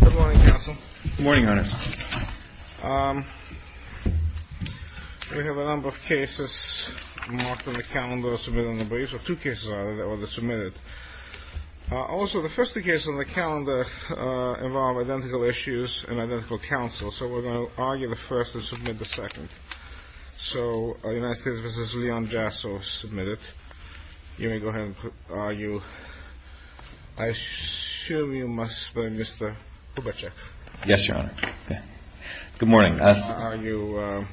Good morning, counsel. Good morning, Your Honor. We have a number of cases marked on the calendar, submitted on the briefs, or two cases, rather, that were submitted. Also, the first two cases on the calendar involve identical issues and identical counsel, so we're going to argue the first and submit the second. So, United States v. Leon Jasso, submitted. You may go ahead and put, argue. I assume you must be Mr. Kubitschek. Yes, Your Honor. Good morning. How are you,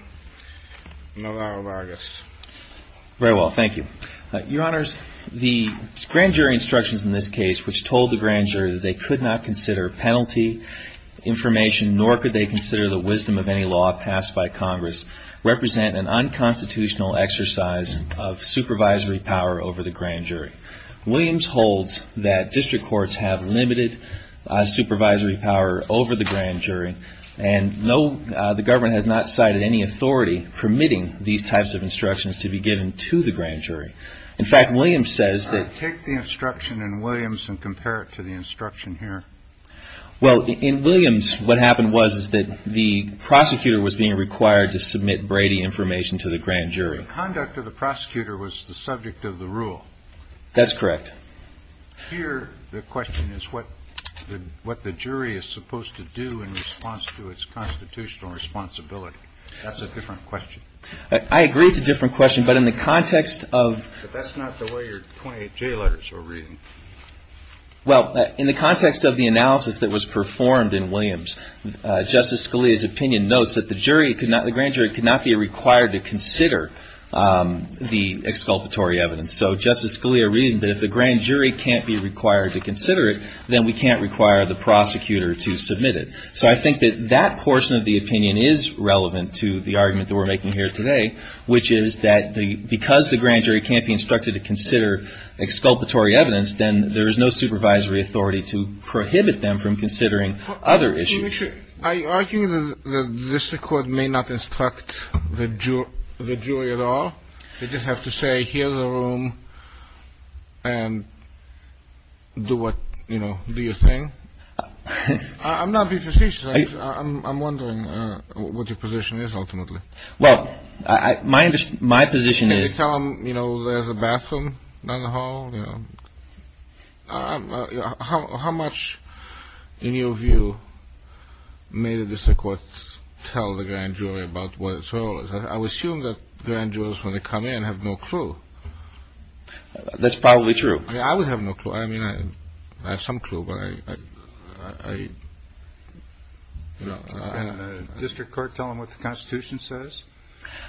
Navarro-Vargas? Very well, thank you. Your Honors, the grand jury instructions in this case, which told the grand jury that they could not consider penalty information, nor could they consider the wisdom of any law passed by Congress, represent an unconstitutional exercise of supervisory power over the grand jury. Williams holds that district courts have limited supervisory power over the grand jury, and the government has not cited any authority permitting these types of instructions to be given to the grand jury. In fact, Williams says that- Take the instruction in Williams and compare it to the instruction here. Well, in Williams, what happened was that the prosecutor was being required to submit Brady information to the grand jury. The conduct of the prosecutor was the subject of the rule. That's correct. Here, the question is what the jury is supposed to do in response to its constitutional responsibility. That's a different question. I agree it's a different question, but in the context of- But that's not the way your 28J letters were written. Well, in the context of the analysis that was performed in Williams, Justice Scalia's opinion notes that the grand jury could not be required to consider the exculpatory evidence. So Justice Scalia reasoned that if the grand jury can't be required to consider it, then we can't require the prosecutor to submit it. So I think that that portion of the opinion is relevant to the argument that we're making here today, which is that because the grand jury can't be instructed to consider exculpatory evidence, then there is no supervisory authority to prohibit them from considering other issues. I argue that the district court may not instruct the jury at all. I just have to say, hear the room and do what, you know, do your thing. I'm not being facetious. I'm wondering what your position is ultimately. Well, my position is- Can you tell them, you know, there's a bathroom down the hall? How much, in your view, may the district court tell the grand jury about what its role is? I would assume that grand jurors, when they come in, have no clue. That's probably true. I mean, I would have no clue. I mean, I have some clue, but I, you know- Can the district court tell them what the Constitution says?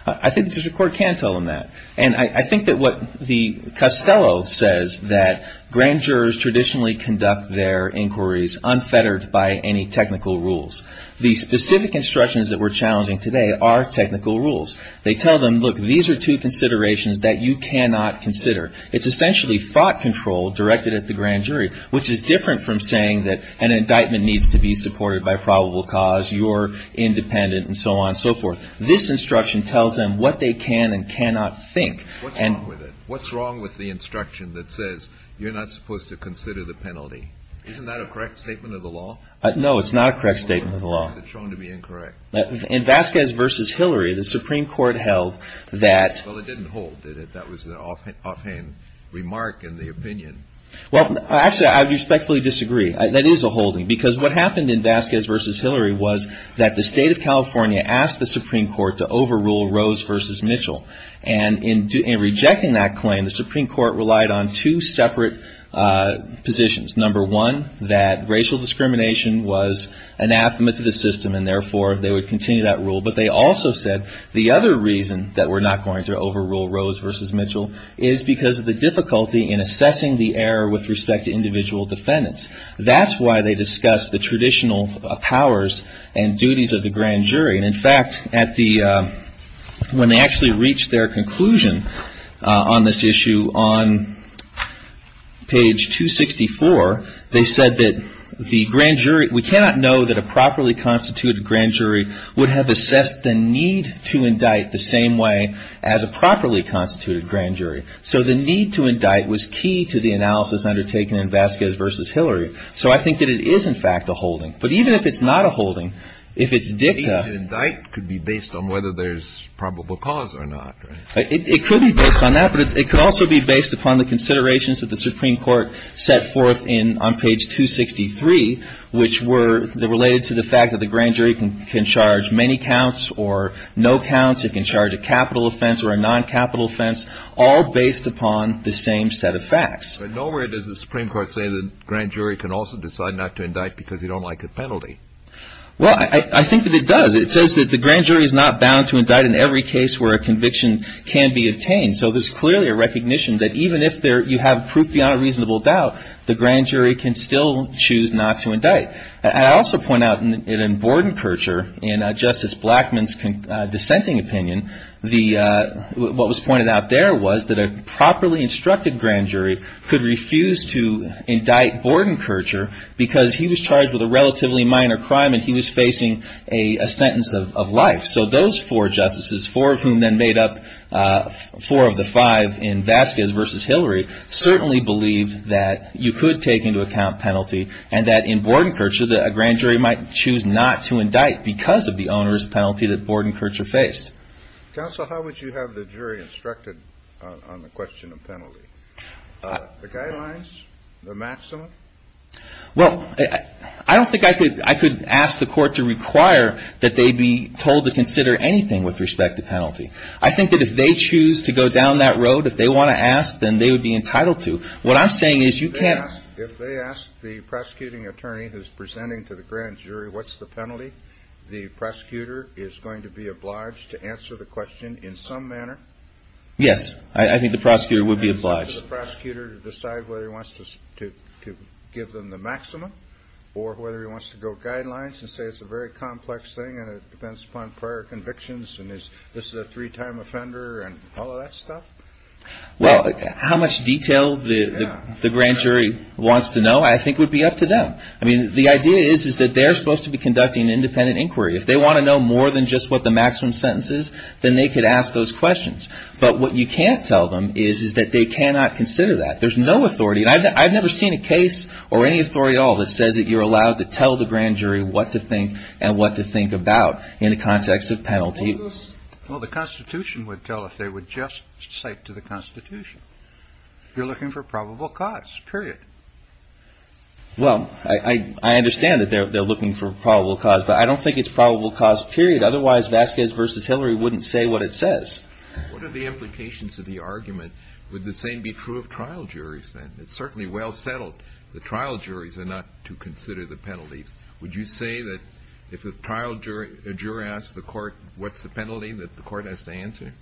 I think the district court can tell them that. And I think that what the Costello says, that grand jurors traditionally conduct their inquiries unfettered by any technical rules. The specific instructions that we're challenging today are technical rules. They tell them, look, these are two considerations that you cannot consider. It's essentially fraught control directed at the grand jury, which is different from saying that an indictment needs to be supported by probable cause, you're independent, and so on and so forth. This instruction tells them what they can and cannot think. What's wrong with it? What's wrong with the instruction that says you're not supposed to consider the penalty? Isn't that a correct statement of the law? No, it's not a correct statement of the law. Is it shown to be incorrect? In Vasquez v. Hillary, the Supreme Court held that- Well, it didn't hold, did it? That was an offhand remark in the opinion. Well, actually, I respectfully disagree. That is a holding, because what happened in Vasquez v. Hillary was that the state of California asked the Supreme Court to overrule Rose v. Mitchell. And in rejecting that claim, the Supreme Court relied on two separate positions. Number one, that racial discrimination was anathema to the system, and therefore, they would continue that rule. But they also said the other reason that we're not going to overrule Rose v. Mitchell is because of the difficulty in assessing the error with respect to individual defendants. That's why they discussed the traditional powers and duties of the grand jury. And in fact, when they actually reached their conclusion on this issue, on page 264, they said that the grand jury- We cannot know that a properly constituted grand jury would have assessed the need to indict the same way as a properly constituted grand jury. So the need to indict was key to the analysis undertaken in Vasquez v. Hillary. So I think that it is, in fact, a holding. But even if it's not a holding, if it's dicta- The need to indict could be based on whether there's probable cause or not, right? It could be based on that, but it could also be based upon the considerations that the Supreme Court set forth on page 263, which were related to the fact that the grand jury can charge many counts or no counts. It can charge a capital offense or a noncapital offense, all based upon the same set of facts. But nowhere does the Supreme Court say the grand jury can also decide not to indict because they don't like a penalty. Well, I think that it does. It says that the grand jury is not bound to indict in every case where a conviction can be obtained. So there's clearly a recognition that even if you have proof beyond a reasonable doubt, the grand jury can still choose not to indict. I also point out in Bordenkercher, in Justice Blackmun's dissenting opinion, what was pointed out there was that a properly instructed grand jury could refuse to indict Bordenkercher because he was charged with a relatively minor crime and he was facing a sentence of life. So those four justices, four of whom then made up four of the five in Vasquez v. Hillary, certainly believed that you could take into account penalty and that in Bordenkercher, that a grand jury might choose not to indict because of the onerous penalty that Bordenkercher faced. Counsel, how would you have the jury instructed on the question of penalty? The guidelines, the maximum? Well, I don't think I could ask the court to require that they be told to consider anything with respect to penalty. I think that if they choose to go down that road, if they want to ask, then they would be entitled to. If they ask the prosecuting attorney who's presenting to the grand jury what's the penalty, the prosecutor is going to be obliged to answer the question in some manner? Yes, I think the prosecutor would be obliged. And it's up to the prosecutor to decide whether he wants to give them the maximum or whether he wants to go guidelines and say it's a very complex thing and it depends upon prior convictions and this is a three-time offender and all of that stuff? Well, how much detail the grand jury wants to know I think would be up to them. I mean, the idea is that they're supposed to be conducting an independent inquiry. If they want to know more than just what the maximum sentence is, then they could ask those questions. But what you can't tell them is that they cannot consider that. There's no authority. I've never seen a case or any authority at all that says that you're allowed to tell the grand jury what to think and what to think about in the context of penalty. Well, the Constitution would tell if they would just cite to the Constitution. You're looking for probable cause, period. Well, I understand that they're looking for probable cause, but I don't think it's probable cause, period. Otherwise, Vasquez v. Hillary wouldn't say what it says. What are the implications of the argument? Would the same be true of trial juries then? It's certainly well settled. The trial juries are not to consider the penalty. Would you say that if a trial jury asks the court what's the penalty that the court has to answer?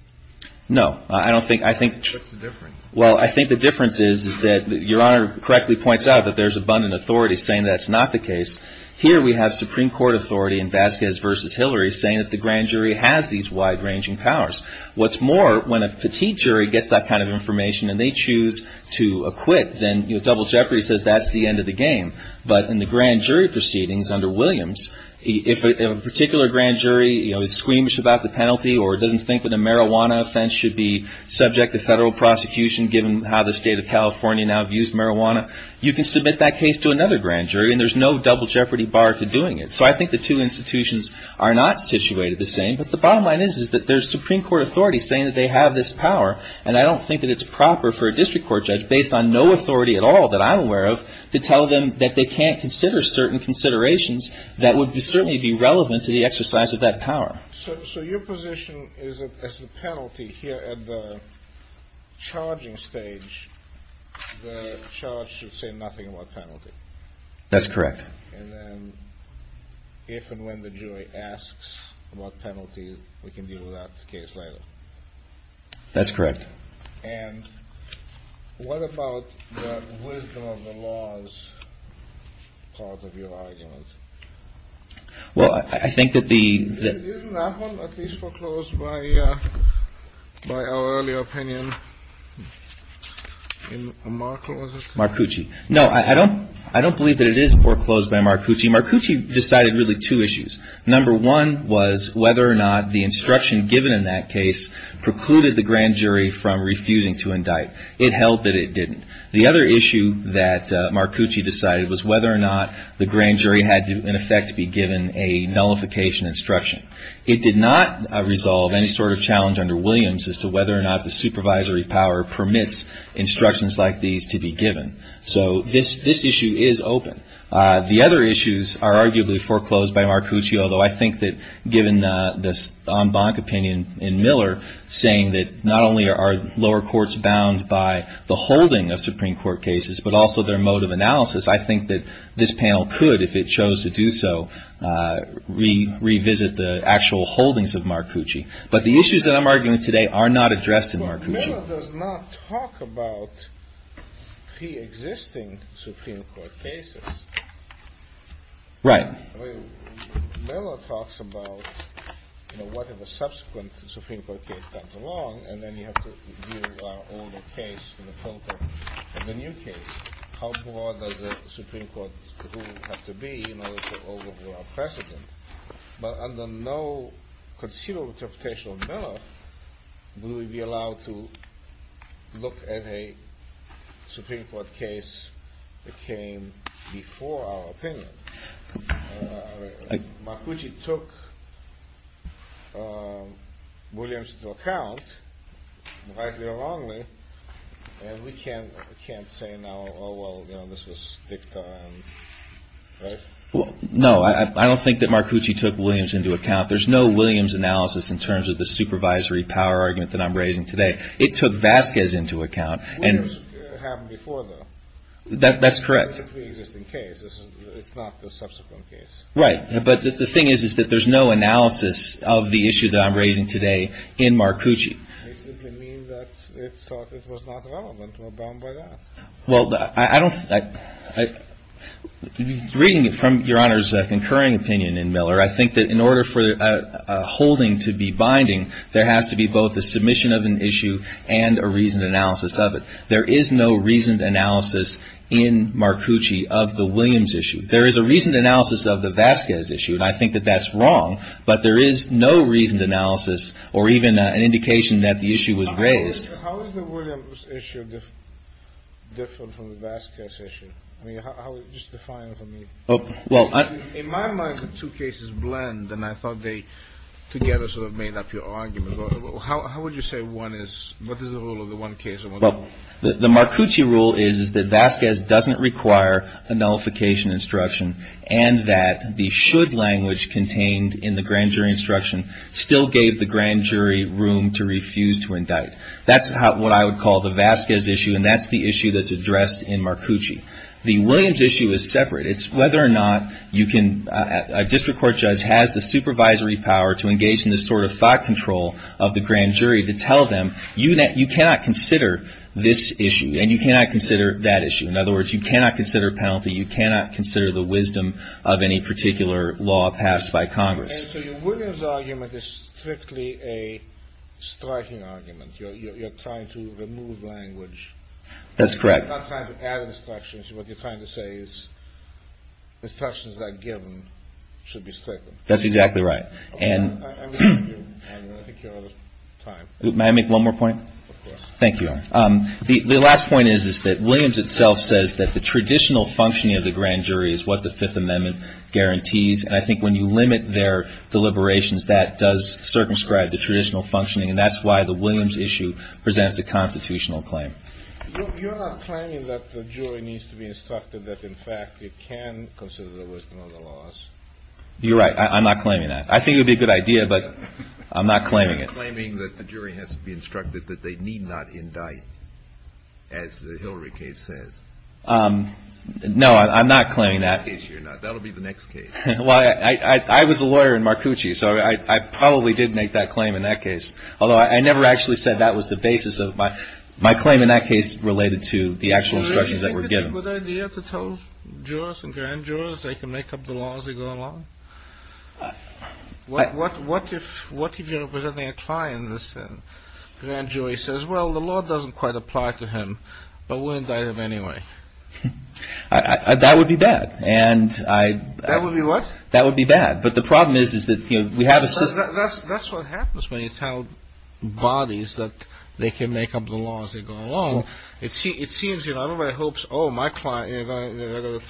No. I don't think – I think – What's the difference? Well, I think the difference is that Your Honor correctly points out that there's abundant authority saying that's not the case. Here we have Supreme Court authority in Vasquez v. Hillary saying that the grand jury has these wide-ranging powers. What's more, when a petite jury gets that kind of information and they choose to acquit, then, you know, double jeopardy says that's the end of the game. But in the grand jury proceedings under Williams, if a particular grand jury, you know, is squeamish about the penalty or doesn't think that a marijuana offense should be subject to federal prosecution given how the state of California now views marijuana, you can submit that case to another grand jury and there's no double jeopardy bar to doing it. So I think the two institutions are not situated the same. But the bottom line is that there's Supreme Court authority saying that they have this power, and I don't think that it's proper for a district court judge, based on no authority at all that I'm aware of, to tell them that they can't consider certain considerations that would certainly be relevant to the exercise of that power. So your position is that as the penalty here at the charging stage, the charge should say nothing about penalty? That's correct. And then if and when the jury asks about penalty, we can deal with that case later? That's correct. And what about the wisdom of the laws part of your argument? Well, I think that the — Isn't that one at least foreclosed by our earlier opinion? In Markle, is it? Marcucci. No, I don't believe that it is foreclosed by Marcucci. Marcucci decided really two issues. Number one was whether or not the instruction given in that case precluded the grand jury from refusing to indict. It held that it didn't. The other issue that Marcucci decided was whether or not the grand jury had to, in effect, be given a nullification instruction. It did not resolve any sort of challenge under Williams as to whether or not the supervisory power permits instructions like these to be given. So this issue is open. The other issues are arguably foreclosed by Marcucci, although I think that given this en banc opinion in Miller, saying that not only are lower courts bound by the holding of Supreme Court cases but also their mode of analysis, I think that this panel could, if it chose to do so, revisit the actual holdings of Marcucci. But the issues that I'm arguing today are not addressed in Marcucci. Miller does not talk about preexisting Supreme Court cases. Right. Miller talks about, you know, what if a subsequent Supreme Court case comes along and then you have to deal with our older case in the filter of the new case. How broad does the Supreme Court rule have to be in order to overrule our precedent? But under no conceivable interpretation of Miller, would we be allowed to look at a Supreme Court case that came before our opinion? Marcucci took Williams into account, rightly or wrongly, and we can't say now, oh, well, you know, this was dicta, right? Well, no, I don't think that Marcucci took Williams into account. There's no Williams analysis in terms of the supervisory power argument that I'm raising today. It took Vasquez into account. Williams happened before, though. That's correct. It's a preexisting case. It's not the subsequent case. Right. But the thing is, is that there's no analysis of the issue that I'm raising today in Marcucci. They simply mean that they thought it was not relevant or bound by that. Well, I don't – reading it from Your Honor's concurring opinion in Miller, I think that in order for a holding to be binding, there has to be both a submission of an issue and a reasoned analysis of it. There is no reasoned analysis in Marcucci of the Williams issue. There is a reasoned analysis of the Vasquez issue, and I think that that's wrong, but there is no reasoned analysis or even an indication that the issue was raised. How is the Williams issue different from the Vasquez issue? I mean, just define it for me. Well, I – In my mind, the two cases blend, and I thought they together sort of made up your argument. How would you say one is – what is the rule of the one case? Well, the Marcucci rule is that Vasquez doesn't require a nullification instruction and that the should language contained in the grand jury instruction still gave the grand jury room to refuse to indict. That's what I would call the Vasquez issue, and that's the issue that's addressed in Marcucci. The Williams issue is separate. It's whether or not you can – a district court judge has the supervisory power to engage in this sort of thought control of the grand jury to tell them you cannot consider this issue and you cannot consider that issue. In other words, you cannot consider a penalty. You cannot consider the wisdom of any particular law passed by Congress. And so your Williams argument is strictly a striking argument. You're trying to remove language. That's correct. You're not trying to add instructions. What you're trying to say is instructions that are given should be stricken. That's exactly right. And – I think you're out of time. May I make one more point? Of course. Thank you. The last point is that Williams itself says that the traditional functioning of the grand jury is what the Fifth Amendment guarantees, and I think when you limit their deliberations, that does circumscribe the traditional functioning, and that's why the Williams issue presents a constitutional claim. You're not claiming that the jury needs to be instructed that, in fact, it can consider the wisdom of the laws. You're right. I'm not claiming that. I think it would be a good idea, but I'm not claiming it. You're claiming that the jury has to be instructed that they need not indict, as the Hillary case says. No, I'm not claiming that. Well, I was a lawyer in Marcucci, so I probably did make that claim in that case, although I never actually said that was the basis of my claim in that case related to the actual instructions that were given. So do you think it's a good idea to tell jurors and grand jurors they can make up the laws as they go along? What if you're representing a client and the grand jury says, well, the law doesn't quite apply to him, but we'll indict him anyway? That would be bad. That would be what? That would be bad. But the problem is that we have a system. That's what happens when you tell bodies that they can make up the laws as they go along. It seems everybody hopes, oh, they're going to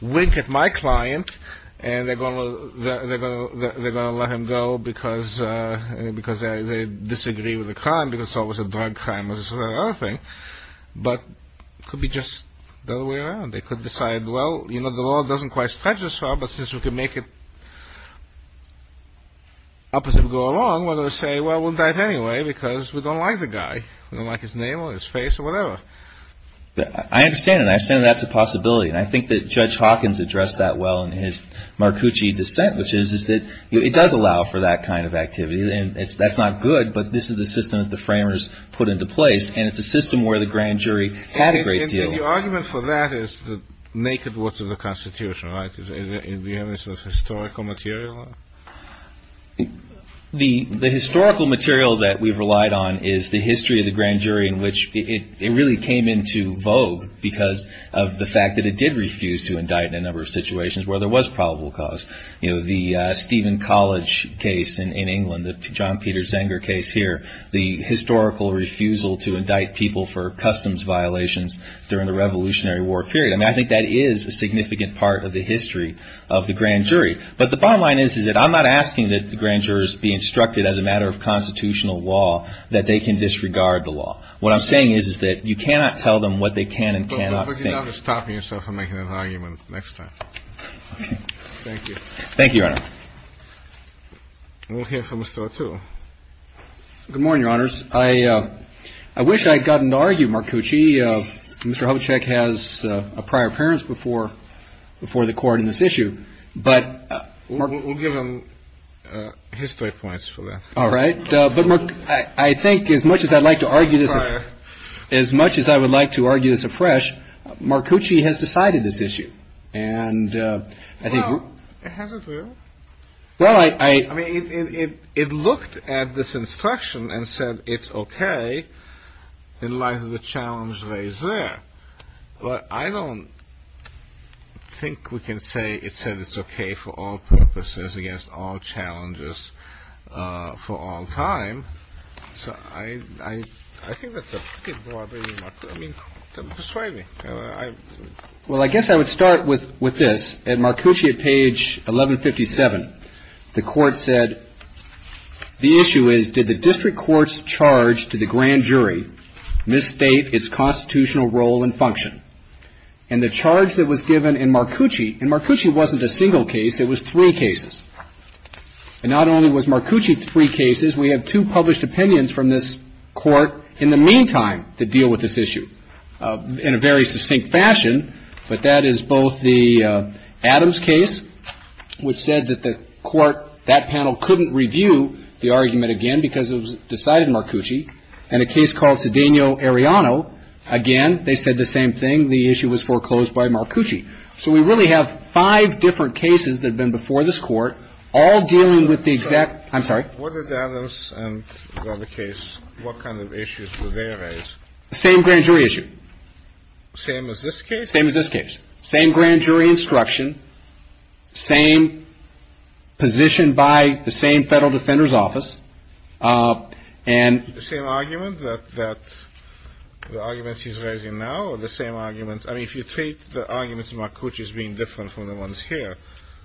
wink at my client, and they're going to let him go because they disagree with the crime because it's always a drug crime, but it could be just the other way around. They could decide, well, the law doesn't quite stretch as far, but since we can make it up as we go along, we're going to say, well, we'll indict him anyway because we don't like the guy. We don't like his name or his face or whatever. I understand that. I understand that's a possibility, and I think that Judge Hawkins addressed that well in his Marcucci dissent, which is that it does allow for that kind of activity, and that's not good, but this is the system that the framers put into place, and it's a system where the grand jury had a great deal of power. And your argument for that is the naked works of the Constitution, right? Do you have any sort of historical material on it? The historical material that we've relied on is the history of the grand jury in which it really came into vogue because of the fact that it did refuse to indict in a number of situations where there was probable cause. You know, the Stephen College case in England, the John Peter Zenger case here, the historical refusal to indict people for customs violations during the Revolutionary War period. I mean, I think that is a significant part of the history of the grand jury, but the bottom line is that I'm not asking that the grand jurors be instructed as a matter of constitutional law that they can disregard the law. What I'm saying is that you cannot tell them what they can and cannot think. But you don't have to stop yourself from making that argument next time. Okay. Thank you. Thank you, Your Honor. We'll hear from Mr. O'Toole. Good morning, Your Honors. I wish I had gotten to argue, Mark Cucci. Mr. Hovacek has a prior appearance before the Court in this issue, but — We'll give him his three points for that. All right. But, Mark, I think as much as I'd like to argue this afresh, Mark Cucci has decided this issue. And I think — Well, hasn't he? Well, I — I mean, it looked at this instruction and said it's okay in light of the challenge raised there. But I don't think we can say it said it's okay for all purposes, against all challenges, for all time. So I — I think that's a — I mean, persuade me. Well, I guess I would start with this. At Mark Cucci at page 1157, the Court said, The issue is, did the district court's charge to the grand jury misstate its constitutional role and function? And the charge that was given in Mark Cucci — and Mark Cucci wasn't a single case. It was three cases. And not only was Mark Cucci three cases. We have two published opinions from this Court in the meantime to deal with this issue in a very succinct fashion. But that is both the Adams case, which said that the Court — that panel couldn't review the argument again because it was decided Mark Cucci. And a case called Cedeno-Ariano. Again, they said the same thing. The issue was foreclosed by Mark Cucci. So we really have five different cases that have been before this Court, all dealing with the exact — I'm sorry? What did Adams and the other case — what kind of issues were they raised? The same grand jury issue. Same as this case? Same as this case. Same grand jury instruction. Same position by the same Federal Defender's Office. And — The same argument that — the arguments he's raising now? Or the same arguments — I mean, if you take the arguments Mark Cucci is being different from the ones here.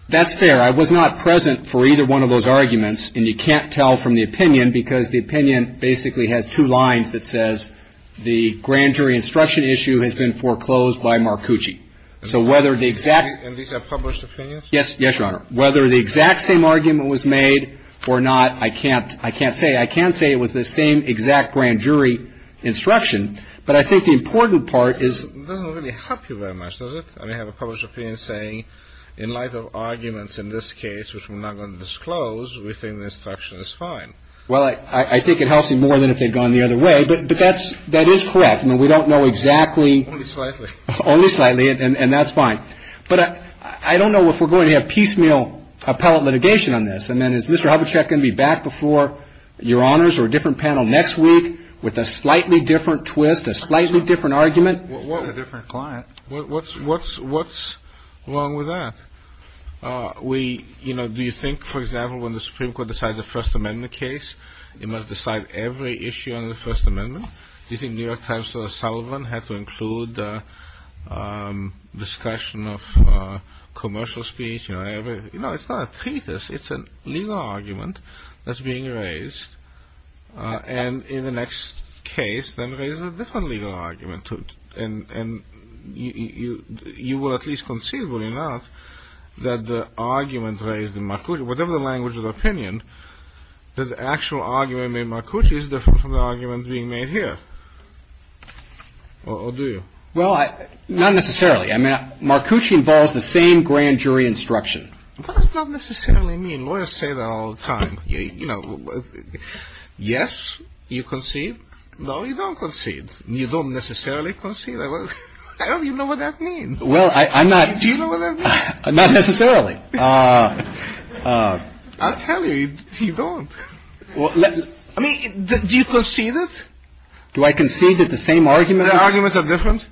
That's fair. I was not present for either one of those arguments. And you can't tell from the opinion because the opinion basically has two lines that says the grand jury instruction issue has been foreclosed by Mark Cucci. So whether the exact — And these are published opinions? Yes. Yes, Your Honor. Whether the exact same argument was made or not, I can't — I can't say. I can say it was the same exact grand jury instruction. But I think the important part is — It doesn't really help you very much, does it? I mean, I have a published opinion saying in light of arguments in this case, which we're not going to disclose, we think the instruction is fine. Well, I think it helps you more than if they'd gone the other way. But that's — that is correct. I mean, we don't know exactly — Only slightly. Only slightly. And that's fine. But I don't know if we're going to have piecemeal appellate litigation on this. I mean, is Mr. Hubachek going to be back before Your Honors or a different panel next week with a slightly different twist, a slightly different argument? What's wrong with that? We — you know, do you think, for example, when the Supreme Court decides a First Amendment case, it must decide every issue under the First Amendment? Do you think New York Times' Sullivan had to include the discussion of commercial speech? You know, it's not a treatise. It's a legal argument that's being raised. And in the next case, then there is a different legal argument. And you will at least concede, will you not, that the argument raised in Marcucci, whatever the language of opinion, that the actual argument in Marcucci is different from the argument being made here? Or do you? Well, not necessarily. I mean, Marcucci involves the same grand jury instruction. That does not necessarily mean — lawyers say that all the time. You know, yes, you concede. No, you don't concede. You don't necessarily concede. I don't even know what that means. Well, I'm not — Do you know what that means? Not necessarily. I'll tell you. You don't. I mean, do you concede it? Do I concede that the same argument — The arguments are different?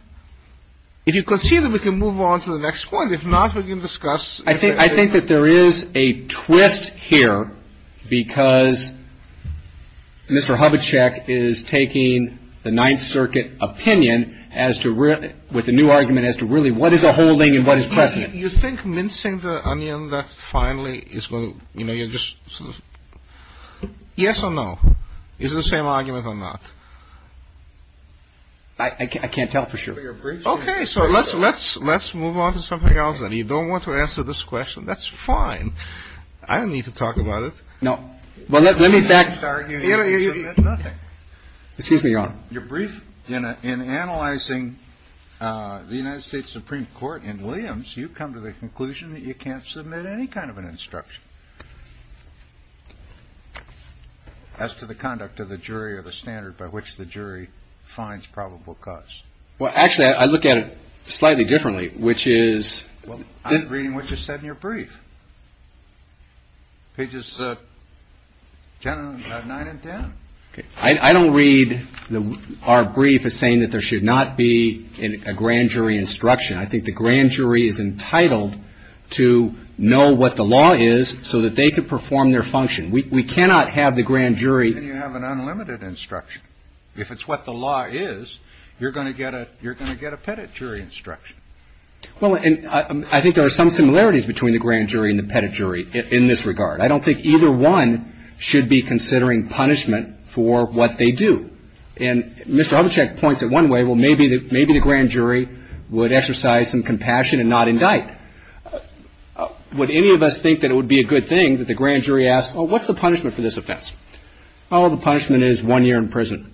If you concede it, we can move on to the next point. If not, we can discuss — I think that there is a twist here because Mr. Hubachek is taking the Ninth Circuit opinion as to — with a new argument as to really what is a holding and what is precedent. You think mincing the onion, that finally is going to — you know, you're just — yes or no? Is it the same argument or not? I can't tell for sure. Okay. So let's — let's — let's move on to something else. And you don't want to answer this question. That's fine. I don't need to talk about it. No. Well, let me back — You know, you — Nothing. Excuse me, Your Honor. Your brief in analyzing the United States Supreme Court in Williams, you come to the conclusion that you can't submit any kind of an instruction as to the conduct of the jury or the standard by which the jury finds probable cause. Well, actually, I look at it slightly differently, which is — Well, I'm reading what you said in your brief. Pages 9 and 10. Okay. I don't read our brief as saying that there should not be a grand jury instruction. I think the grand jury is entitled to know what the law is so that they can perform their function. We cannot have the grand jury — Then you have an unlimited instruction. If it's what the law is, you're going to get a — you're going to get a pettit jury instruction. Well, and I think there are some similarities between the grand jury and the pettit jury in this regard. I don't think either one should be considering punishment for what they do. And Mr. Hubachek points it one way. Well, maybe the grand jury would exercise some compassion and not indict. Would any of us think that it would be a good thing that the grand jury asked, well, what's the punishment for this offense? Oh, the punishment is one year in prison.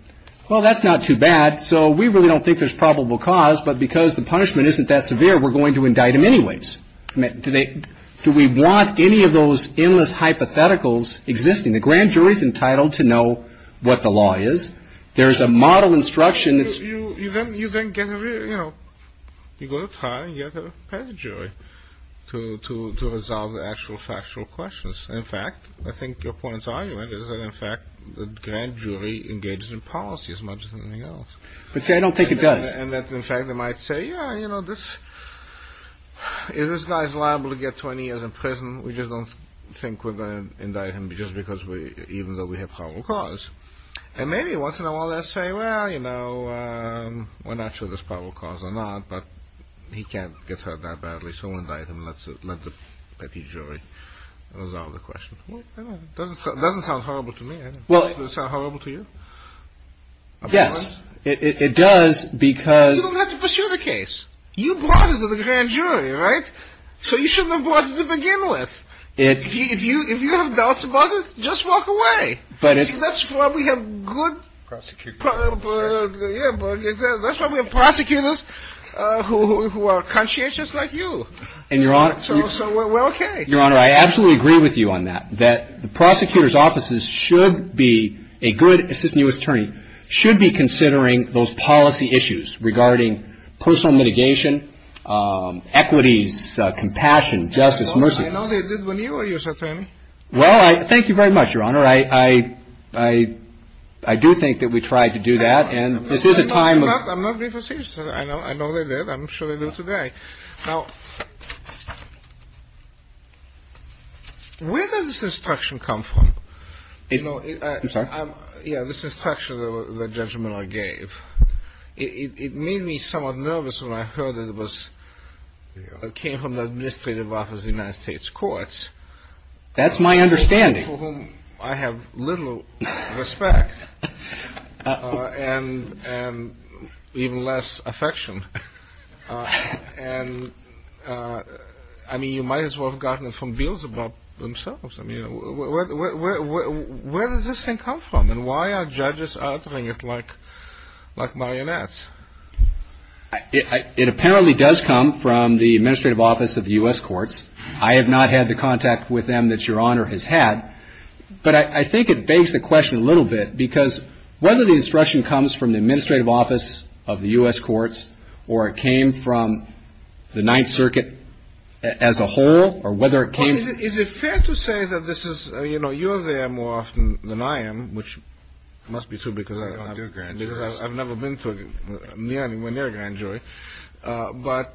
Well, that's not too bad. So we really don't think there's probable cause. But because the punishment isn't that severe, we're going to indict him anyways. Do we want any of those endless hypotheticals existing? The grand jury is entitled to know what the law is. There is a model instruction that's — You then get a — you know, you go to trial and you have to have a pettit jury to resolve the actual factual questions. In fact, I think your point of argument is that, in fact, the grand jury engages in policy as much as anything else. But see, I don't think it does. And that, in fact, they might say, yeah, you know, this — is this guy liable to get 20 years in prison? We just don't think we're going to indict him just because we — even though we have probable cause. And maybe once in a while they'll say, well, you know, we're not sure there's probable cause or not, but he can't get hurt that badly. So we'll indict him and let the petty jury resolve the question. Doesn't sound horrible to me. Does it sound horrible to you? Yes, it does because — You don't have to pursue the case. You brought it to the grand jury, right? So you shouldn't have brought it to begin with. If you have doubts about it, just walk away. That's why we have good — Prosecutors. That's why we have prosecutors who are conscientious like you. And, Your Honor — So we're okay. Your Honor, I absolutely agree with you on that, that the prosecutor's offices should be a good assistant U.S. attorney, should be considering those policy issues regarding personal mitigation, equities, compassion, justice, mercy. I know they did when you were U.S. attorney. Well, thank you very much, Your Honor. I do think that we tried to do that. And this is a time of — I'm not being facetious. I know they did. I'm sure they did today. Now, where does this instruction come from? You know — I'm sorry? Yeah, this instruction, the judgment I gave, it made me somewhat nervous when I heard it was — it came from the administrative office of the United States courts. That's my understanding. For whom I have little respect. And even less affection. And, I mean, you might as well have gotten it from Beelzebub themselves. I mean, where does this thing come from? And why are judges uttering it like marionettes? It apparently does come from the administrative office of the U.S. courts. I have not had the contact with them that Your Honor has had. But I think it begs the question a little bit. Because whether the instruction comes from the administrative office of the U.S. courts, or it came from the Ninth Circuit as a whole, or whether it came — Well, is it fair to say that this is — you know, you're there more often than I am, which must be true because I've never been to a near and dear grand jury. But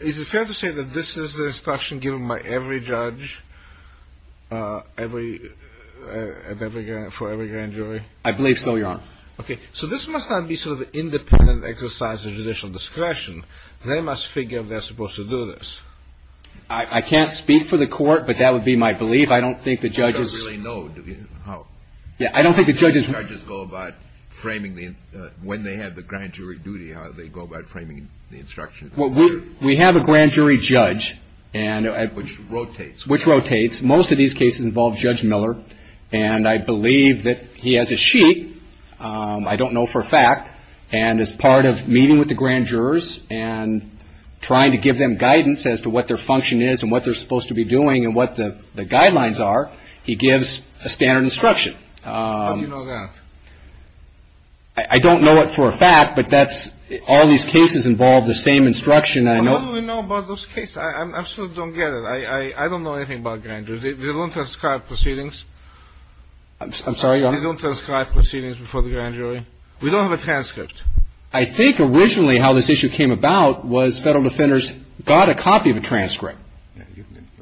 is it fair to say that this is the instruction given by every judge for every grand jury? I believe so, Your Honor. Okay. So this must not be sort of an independent exercise of judicial discretion. They must figure if they're supposed to do this. I can't speak for the court, but that would be my belief. I don't think the judges — You don't really know, do you? Yeah, I don't think the judges — When they have the grand jury duty, how do they go about framing the instruction? Well, we have a grand jury judge. Which rotates. Which rotates. Most of these cases involve Judge Miller. And I believe that he has a sheet. I don't know for a fact. And as part of meeting with the grand jurors and trying to give them guidance as to what their function is and what they're supposed to be doing and what the guidelines are, he gives a standard instruction. How do you know that? I don't know it for a fact, but that's — all these cases involve the same instruction. And I know — How do we know about those cases? I absolutely don't get it. I don't know anything about grand juries. They don't describe proceedings. I'm sorry, Your Honor? They don't describe proceedings before the grand jury. We don't have a transcript. I think originally how this issue came about was Federal defenders got a copy of a transcript.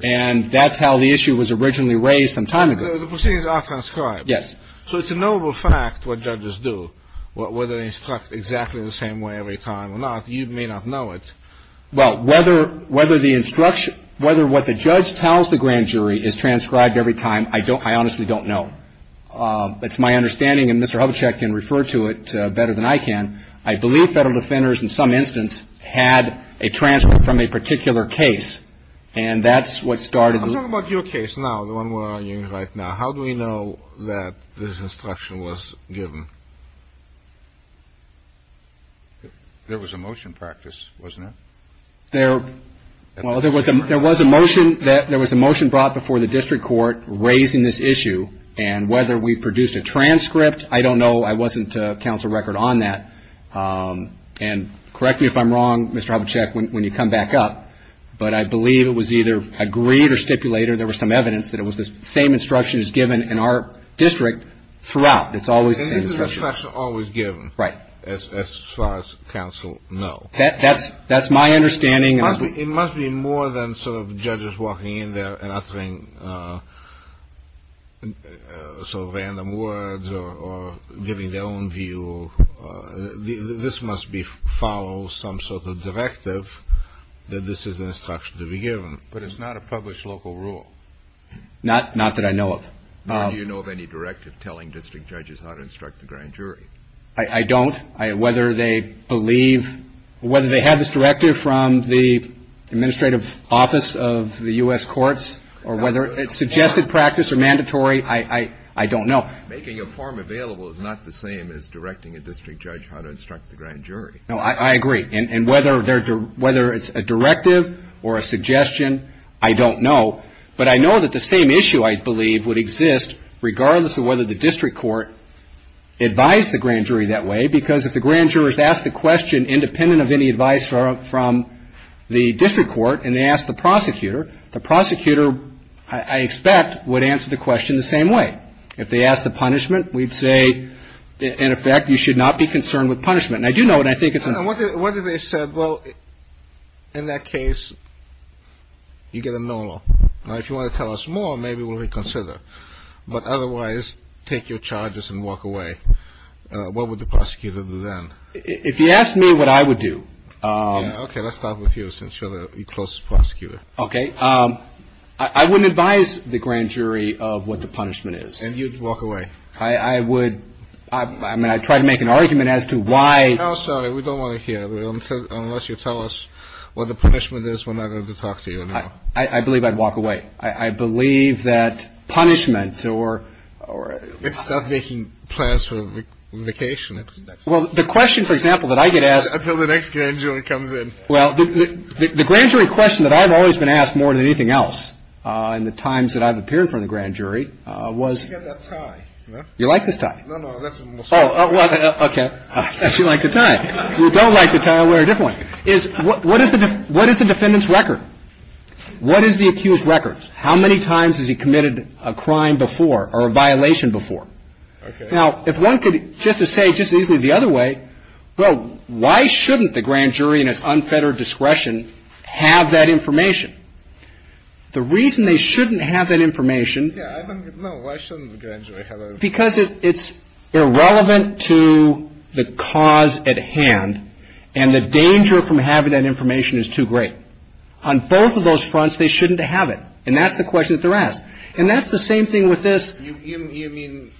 And that's how the issue was originally raised some time ago. The proceedings are transcribed. Yes. So it's a knowable fact what judges do, whether they instruct exactly the same way every time or not. You may not know it. Well, whether the instruction — whether what the judge tells the grand jury is transcribed every time, I honestly don't know. It's my understanding, and Mr. Hubachek can refer to it better than I can, I believe Federal defenders in some instance had a transcript from a particular case. And that's what started the — Let's talk about your case now, the one we're arguing right now. How do we know that this instruction was given? There was a motion practice, wasn't there? Well, there was a motion brought before the district court raising this issue. And whether we produced a transcript, I don't know. I wasn't counsel record on that. And correct me if I'm wrong, Mr. Hubachek, when you come back up, but I believe it was either agreed or stipulated, or there was some evidence that it was the same instruction as given in our district throughout. It's always the same instruction. And isn't this instruction always given? Right. As far as counsel know. That's my understanding. It must be more than sort of judges walking in there and uttering sort of random words or giving their own view. This must follow some sort of directive that this is an instruction to be given. But it's not a published local rule. Not that I know of. Do you know of any directive telling district judges how to instruct the grand jury? I don't. Whether they believe — whether they have this directive from the administrative office of the U.S. courts, or whether it's suggested practice or mandatory, I don't know. Making a form available is not the same as directing a district judge how to instruct the grand jury. No, I agree. And whether it's a directive or a suggestion, I don't know. But I know that the same issue, I believe, would exist regardless of whether the district court advised the grand jury that way, because if the grand jurors asked the question independent of any advice from the district court and they asked the prosecutor, the prosecutor, I expect, would answer the question the same way. If they asked the punishment, we'd say, in effect, you should not be concerned with punishment. And I do know it, and I think it's — What if they said, well, in that case, you get a no law. Now, if you want to tell us more, maybe we'll reconsider. But otherwise, take your charges and walk away. What would the prosecutor do then? If you asked me what I would do — Okay. Let's start with you, since you're the closest prosecutor. Okay. I wouldn't advise the grand jury of what the punishment is. And you'd walk away. I would — I mean, I'd try to make an argument as to why — No, sorry. We don't want to hear it unless you tell us what the punishment is. We're not going to talk to you anymore. I believe I'd walk away. I believe that punishment or — It's not making plans for vacation. Well, the question, for example, that I get asked — Until the next grand jury comes in. Well, the grand jury question that I've always been asked more than anything else in the times that I've appeared in front of the grand jury was — You've got that tie. You like this tie? No, no. Oh, okay. I guess you like the tie. If you don't like the tie, I'll wear a different one. What is the defendant's record? What is the accused's record? How many times has he committed a crime before or a violation before? Okay. Now, if one could, just to say just easily the other way, well, why shouldn't the grand jury in its unfettered discretion have that information? The reason they shouldn't have that information — Yeah, I don't know. Why shouldn't the grand jury have it? Because it's irrelevant to the cause at hand, and the danger from having that information is too great. On both of those fronts, they shouldn't have it. And that's the question that they're asked. And that's the same thing with this — You mean,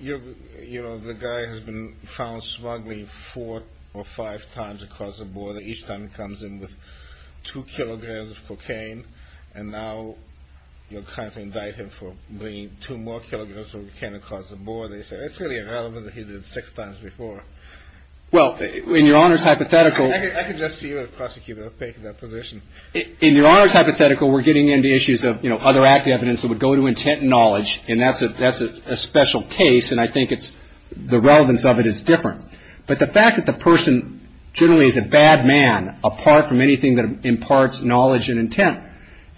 you know, the guy has been found smuggling four or five times across the border, each time he comes in with two kilograms of cocaine, and now you're trying to indict him for bringing two more kilograms of cocaine across the border. It's really irrelevant that he did it six times before. Well, in Your Honor's hypothetical — I can just see where the prosecutor would take that position. In Your Honor's hypothetical, we're getting into issues of, you know, other active evidence that would go to intent and knowledge, and that's a special case, and I think it's — the relevance of it is different. But the fact that the person generally is a bad man, apart from anything that imparts knowledge and intent,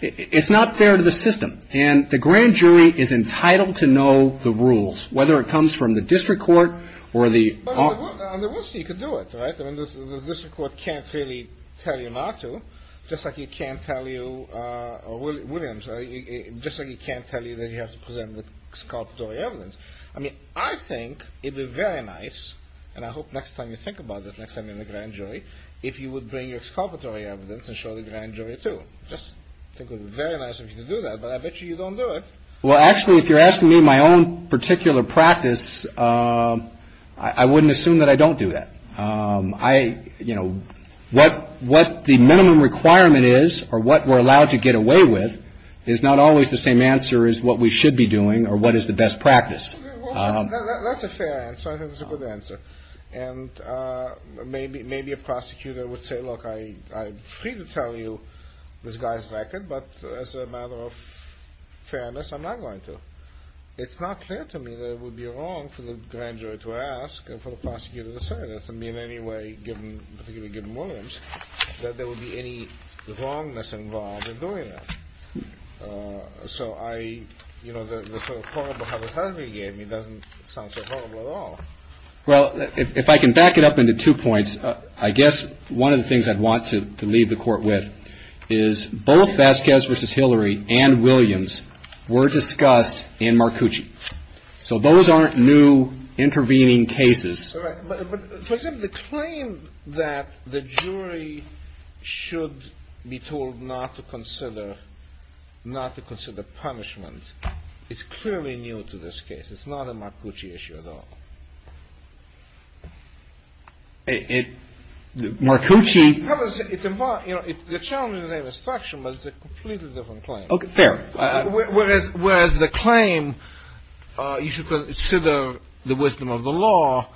it's not fair to the system. And the grand jury is entitled to know the rules, whether it comes from the district court or the — You could do it, right? I mean, the district court can't really tell you not to, just like it can't tell you — or Williams, just like it can't tell you that you have to present the exculpatory evidence. I mean, I think it would be very nice — and I hope next time you think about this, next time you're in the grand jury — if you would bring your exculpatory evidence and show the grand jury, too. Just think it would be very nice if you could do that. But I bet you you don't do it. Well, actually, if you're asking me my own particular practice, I wouldn't assume that I don't do that. I — you know, what the minimum requirement is, or what we're allowed to get away with, is not always the same answer as what we should be doing or what is the best practice. That's a fair answer. I think that's a good answer. And maybe a prosecutor would say, look, I'm free to tell you this guy's record, but as a matter of fairness, I'm not going to. It's not clear to me that it would be wrong for the grand jury to ask and for the prosecutor to say this. I mean, in any way, particularly given Williams, that there would be any wrongness involved in doing it. So I — you know, the sort of horrible hypothetical you gave me doesn't sound so horrible at all. Well, if I can back it up into two points, I guess one of the things I'd want to leave the court with is both Vasquez v. Hillary and Williams were discussed in Marcucci. So those aren't new intervening cases. All right. But for the claim that the jury should be told not to consider — not to consider punishment, it's clearly new to this case. It's not a Marcucci issue at all. It — Marcucci — It's a — you know, the challenge is in the structure, but it's a completely different claim. Fair. Whereas the claim, you should consider the wisdom of the law,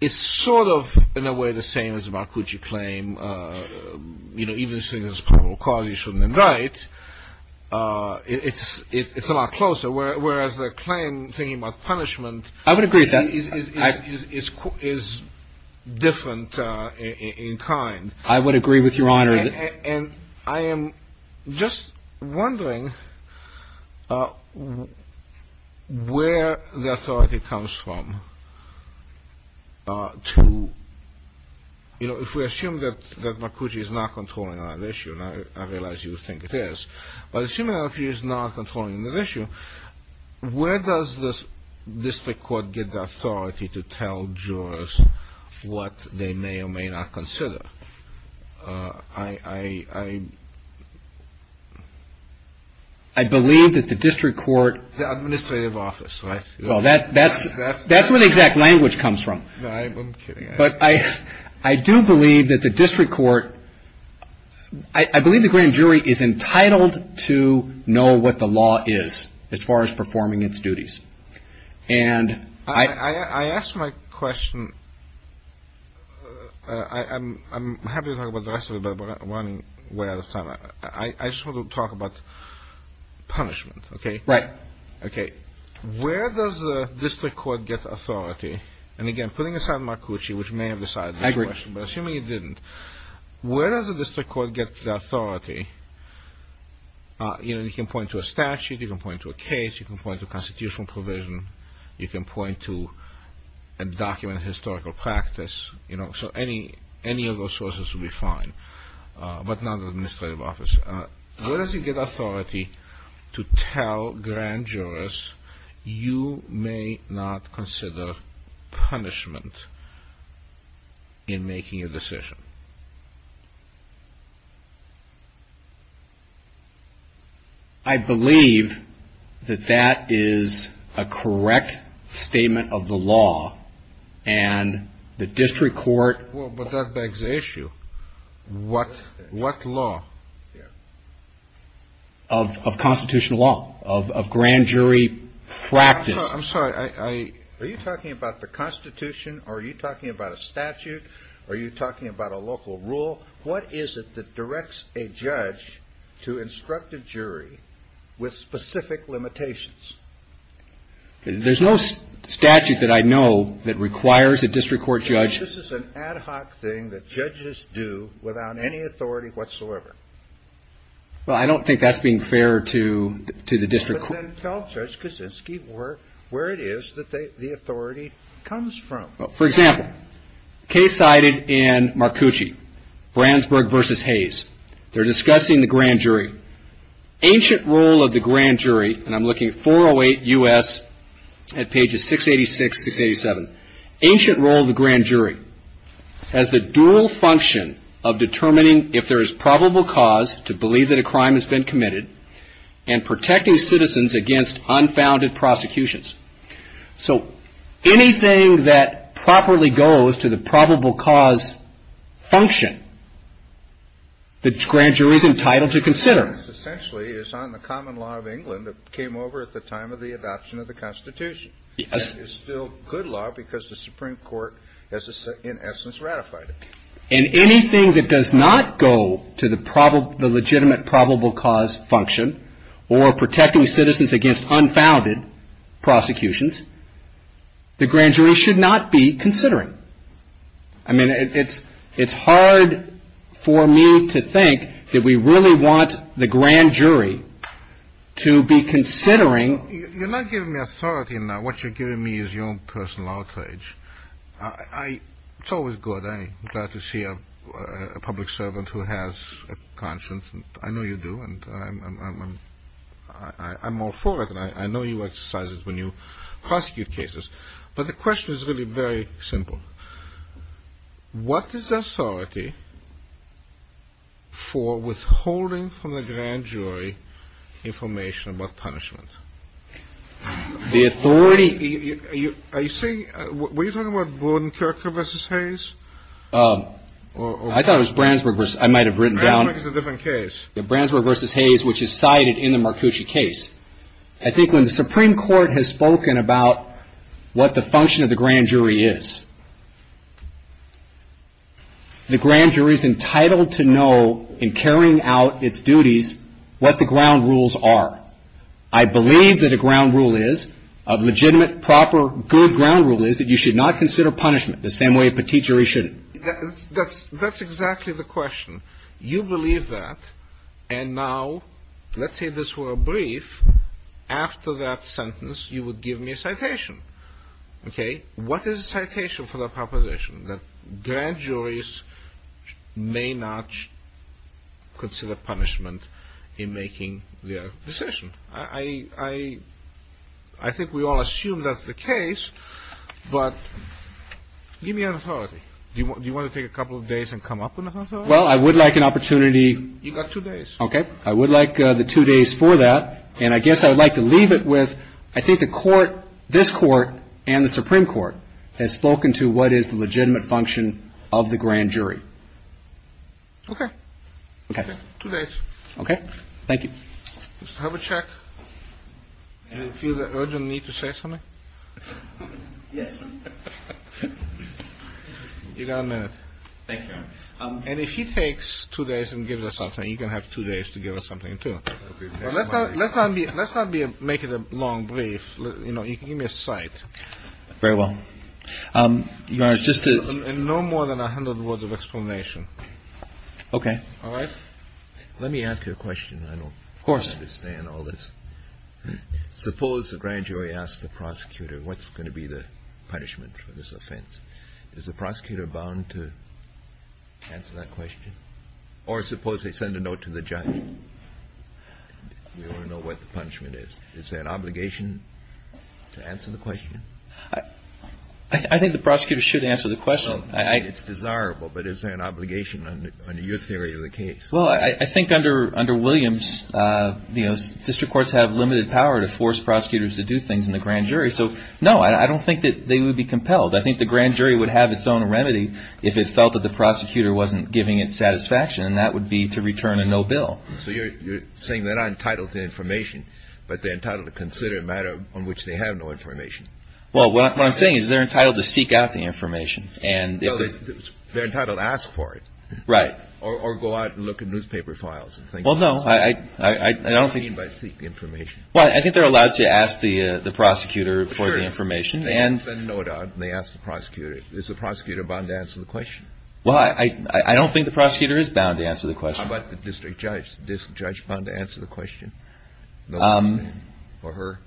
is sort of, in a way, the same as a Marcucci claim. You know, even saying there's probable cause you shouldn't invite, it's a lot closer. Whereas the claim, thinking about punishment — I would agree with that. — is different in kind. I would agree with Your Honor. And I am just wondering where the authority comes from to — you know, if we assume that Marcucci is not controlling another issue, and I realize you think it is, but assuming that Marcucci is not controlling another issue, where does the district court get the authority to tell jurors what they may or may not consider? I — I believe that the district court — The administrative office, right? Well, that's where the exact language comes from. No, I'm kidding. I do believe that the district court — I believe the grand jury is entitled to know what the law is as far as performing its duties. And I — I ask my question — I'm happy to talk about the rest of it, but we're running way out of time. I just want to talk about punishment, okay? Right. Okay. Where does the district court get authority? And again, putting aside Marcucci, which may have decided this question, but assuming it didn't, where does the district court get the authority? You know, you can point to a statute. You can point to a case. You can point to a constitutional provision. You can point to a document of historical practice. You know, so any of those sources would be fine, but not the administrative office. Where does it get authority to tell grand jurors, you may not consider punishment in making a decision? I believe that that is a correct statement of the law, and the district court — of constitutional law, of grand jury practice. I'm sorry. Are you talking about the Constitution, or are you talking about a statute? Are you talking about a local rule? What is it that directs a judge to instruct a jury with specific limitations? There's no statute that I know that requires a district court judge — Well, I don't think that's being fair to the district court. But then tell Judge Kosinski where it is that the authority comes from. For example, a case cited in Marcucci, Brandsburg v. Hayes. They're discussing the grand jury. Ancient role of the grand jury, and I'm looking at 408 U.S. at pages 686, 687. Ancient role of the grand jury has the dual function of determining if there is probable cause to believe that a crime has been committed, and protecting citizens against unfounded prosecutions. So anything that properly goes to the probable cause function, the grand jury is entitled to consider. Essentially, it's on the common law of England that came over at the time of the adoption of the Constitution. It's still good law because the Supreme Court has, in essence, ratified it. And anything that does not go to the legitimate probable cause function, or protecting citizens against unfounded prosecutions, the grand jury should not be considering. I mean, it's hard for me to think that we really want the grand jury to be considering — Well, you're not giving me authority now. What you're giving me is your own personal outrage. It's always good. I'm glad to see a public servant who has a conscience. I know you do, and I'm all for it. And I know you exercise it when you prosecute cases. But the question is really very simple. What is the authority for withholding from the grand jury information about punishment? The authority — Are you saying — were you talking about Vordenkircher v. Hayes? I thought it was Brandsburg v. — I might have written down — Brandsburg is a different case. Brandsburg v. Hayes, which is cited in the Marcucci case. I think when the Supreme Court has spoken about what the function of the grand jury is, the grand jury is entitled to know, in carrying out its duties, what the ground rules are. I believe that a ground rule is, a legitimate, proper, good ground rule is, that you should not consider punishment the same way a petite jury shouldn't. That's exactly the question. You believe that. And now, let's say this were a brief. After that sentence, you would give me a citation. Okay? What is the citation for that proposition? That grand juries may not consider punishment in making their decision. I think we all assume that's the case. But give me an authority. Do you want to take a couple of days and come up with an authority? Well, I would like an opportunity — You've got two days. Okay. I would like the two days for that. And I guess I would like to leave it with, I think the Court, this Court and the Supreme Court, has spoken to what is the legitimate function of the grand jury. Okay. Okay. Two days. Okay. Thank you. Mr. Herbacek, do you feel the urgent need to say something? Yes. You've got a minute. Thank you. And if he takes two days and gives us something, you can have two days to give us something, too. Let's not be — let's not make it a long brief. You know, give me a cite. Very well. Your Honor, just to — And no more than 100 words of explanation. Okay. All right? Let me ask you a question. Of course. I don't understand all this. Suppose the grand jury asks the prosecutor, what's going to be the punishment for this offense? Is the prosecutor bound to answer that question? Or suppose they send a note to the judge. We all know what the punishment is. Is there an obligation to answer the question? I think the prosecutor should answer the question. It's desirable, but is there an obligation under your theory of the case? Well, I think under Williams, you know, district courts have limited power to force prosecutors to do things in the grand jury. So, no, I don't think that they would be compelled. I think the grand jury would have its own remedy if it felt that the prosecutor wasn't giving it satisfaction, and that would be to return a no bill. So you're saying they're not entitled to information, but they're entitled to consider a matter on which they have no information. Well, what I'm saying is they're entitled to seek out the information. Well, they're entitled to ask for it. Right. Or go out and look at newspaper files. Well, no. What do you mean by seek information? Well, I think they're allowed to ask the prosecutor for the information. Sure. They can send a note out, and they ask the prosecutor. Is the prosecutor bound to answer the question? Well, I don't think the prosecutor is bound to answer the question. How about the district judge? Is the district judge bound to answer the question? For her?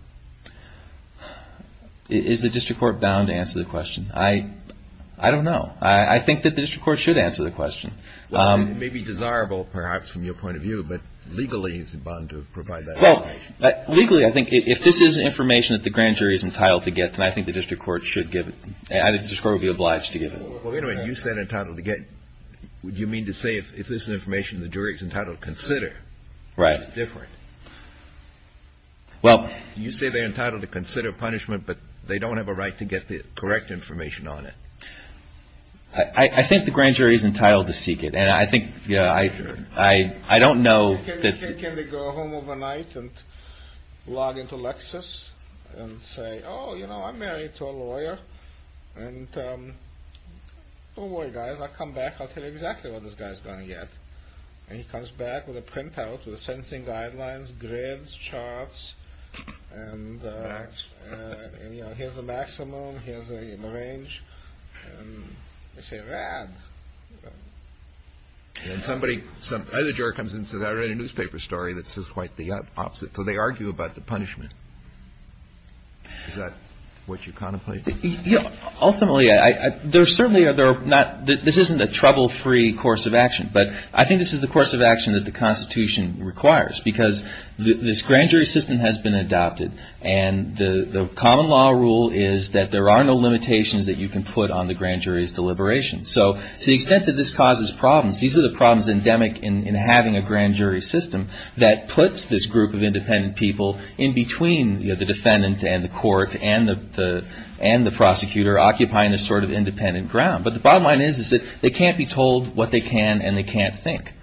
Is the district court bound to answer the question? I don't know. I think that the district court should answer the question. It may be desirable, perhaps, from your point of view, but legally, is it bound to provide that information? Legally, I think if this is information that the grand jury is entitled to get, then I think the district court should give it. I think the district court would be obliged to give it. Well, wait a minute. You said entitled to get. What do you mean to say if this is information the jury is entitled to consider? Right. It's different. Well. You say they're entitled to consider punishment, but they don't have a right to get the correct information on it. I think the grand jury is entitled to seek it, and I think I don't know that. Can they go home overnight and log into Lexus and say, oh, you know, I'm married to a lawyer, and don't worry, guys. I'll come back. I'll tell you exactly what this guy's going to get. And he comes back with a printout with the sentencing guidelines, grids, charts, and here's the maximum, here's the range, and they say, rad. And somebody, some other juror comes in and says, I read a newspaper story that says quite the opposite. So they argue about the punishment. Is that what you contemplate? Ultimately, there certainly are not, this isn't a trouble-free course of action, but I think this is the course of action that the Constitution requires, because this grand jury system has been adopted, and the common law rule is that there are no limitations that you can put on the grand jury's deliberations. So to the extent that this causes problems, these are the problems endemic in having a grand jury system that puts this group of independent people in between the defendant and the court and the prosecutor, occupying this sort of independent ground. But the bottom line is that they can't be told what they can and they can't think.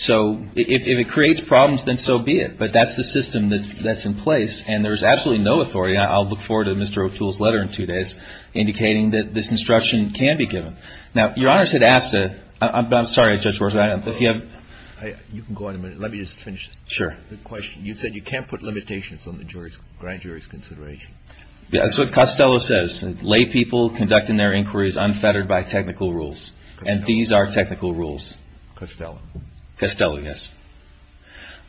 So if it creates problems, then so be it. But that's the system that's in place, and there's absolutely no authority, and I'll look forward to Mr. O'Toole's letter in two days indicating that this instruction can be given. Now, Your Honors had asked, I'm sorry, Judge Worsley, if you have. You can go on in a minute. Let me just finish the question. You said you can't put limitations on the grand jury's consideration. That's what Costello says. Lay people conducting their inquiries unfettered by technical rules. And these are technical rules. Costello. Costello, yes.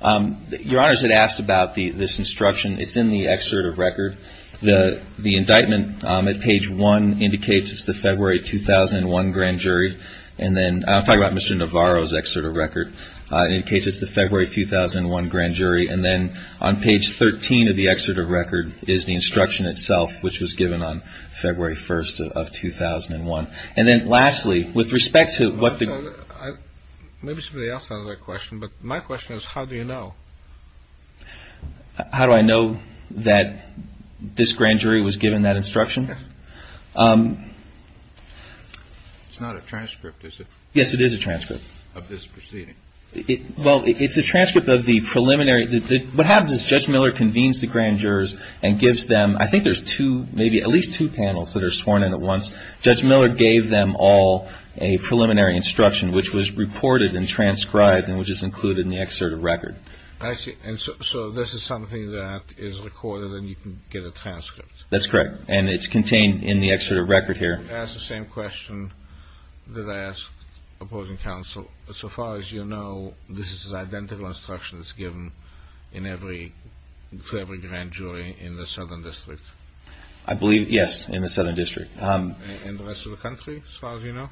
Your Honors had asked about this instruction. It's in the excerpt of record. The indictment at page 1 indicates it's the February 2001 grand jury. And then I'm talking about Mr. Navarro's excerpt of record. It indicates it's the February 2001 grand jury. And then on page 13 of the excerpt of record is the instruction itself, which was given on February 1st of 2001. And then lastly, with respect to what the ---- Maybe somebody else has a question, but my question is how do you know? How do I know that this grand jury was given that instruction? It's not a transcript, is it? Yes, it is a transcript. Of this proceeding. Well, it's a transcript of the preliminary. What happens is Judge Miller convenes the grand jurors and gives them, I think there's two, maybe at least two panels that are sworn in at once. Judge Miller gave them all a preliminary instruction, which was reported and transcribed and which is included in the excerpt of record. I see. And so this is something that is recorded and you can get a transcript. That's correct. And it's contained in the excerpt of record here. You asked the same question that I asked opposing counsel. So far as you know, this is an identical instruction that's given in every, for every grand jury in the Southern District. I believe, yes, in the Southern District. And the rest of the country, as far as you know?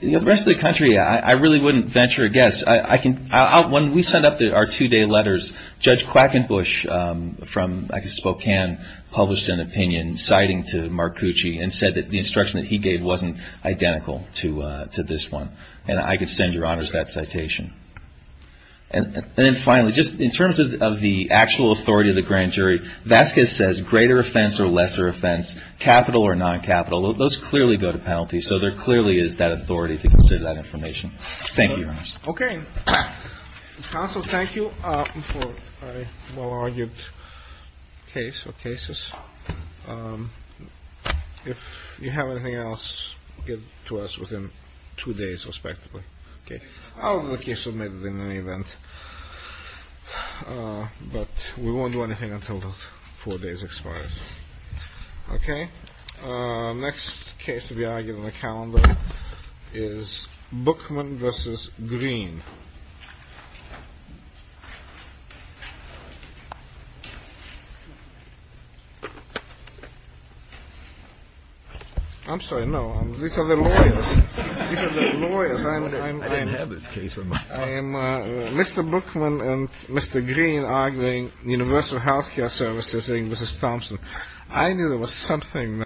The rest of the country, I really wouldn't venture a guess. When we sent up our two-day letters, Judge Quackenbush from Spokane published an opinion, citing to Marcucci and said that the instruction that he gave wasn't identical to this one. And I could send your honors that citation. And then finally, just in terms of the actual authority of the grand jury, Vasquez says greater offense or lesser offense, capital or non-capital. Those clearly go to penalty. So there clearly is that authority to consider that information. Thank you, your honors. Okay. Counsel, thank you for a well-argued case or cases. If you have anything else, get to us within two days, respectively. Okay. Well, the case submitted in any event. But we won't do anything until the four days expire. Okay. Next case to be argued in the calendar is Bookman v. Green. I'm sorry, no. These are the lawyers. These are the lawyers. I didn't have this case on my mind. Mr. Bookman and Mr. Green arguing Universal Health Care Services v. Thompson. I knew there was something there.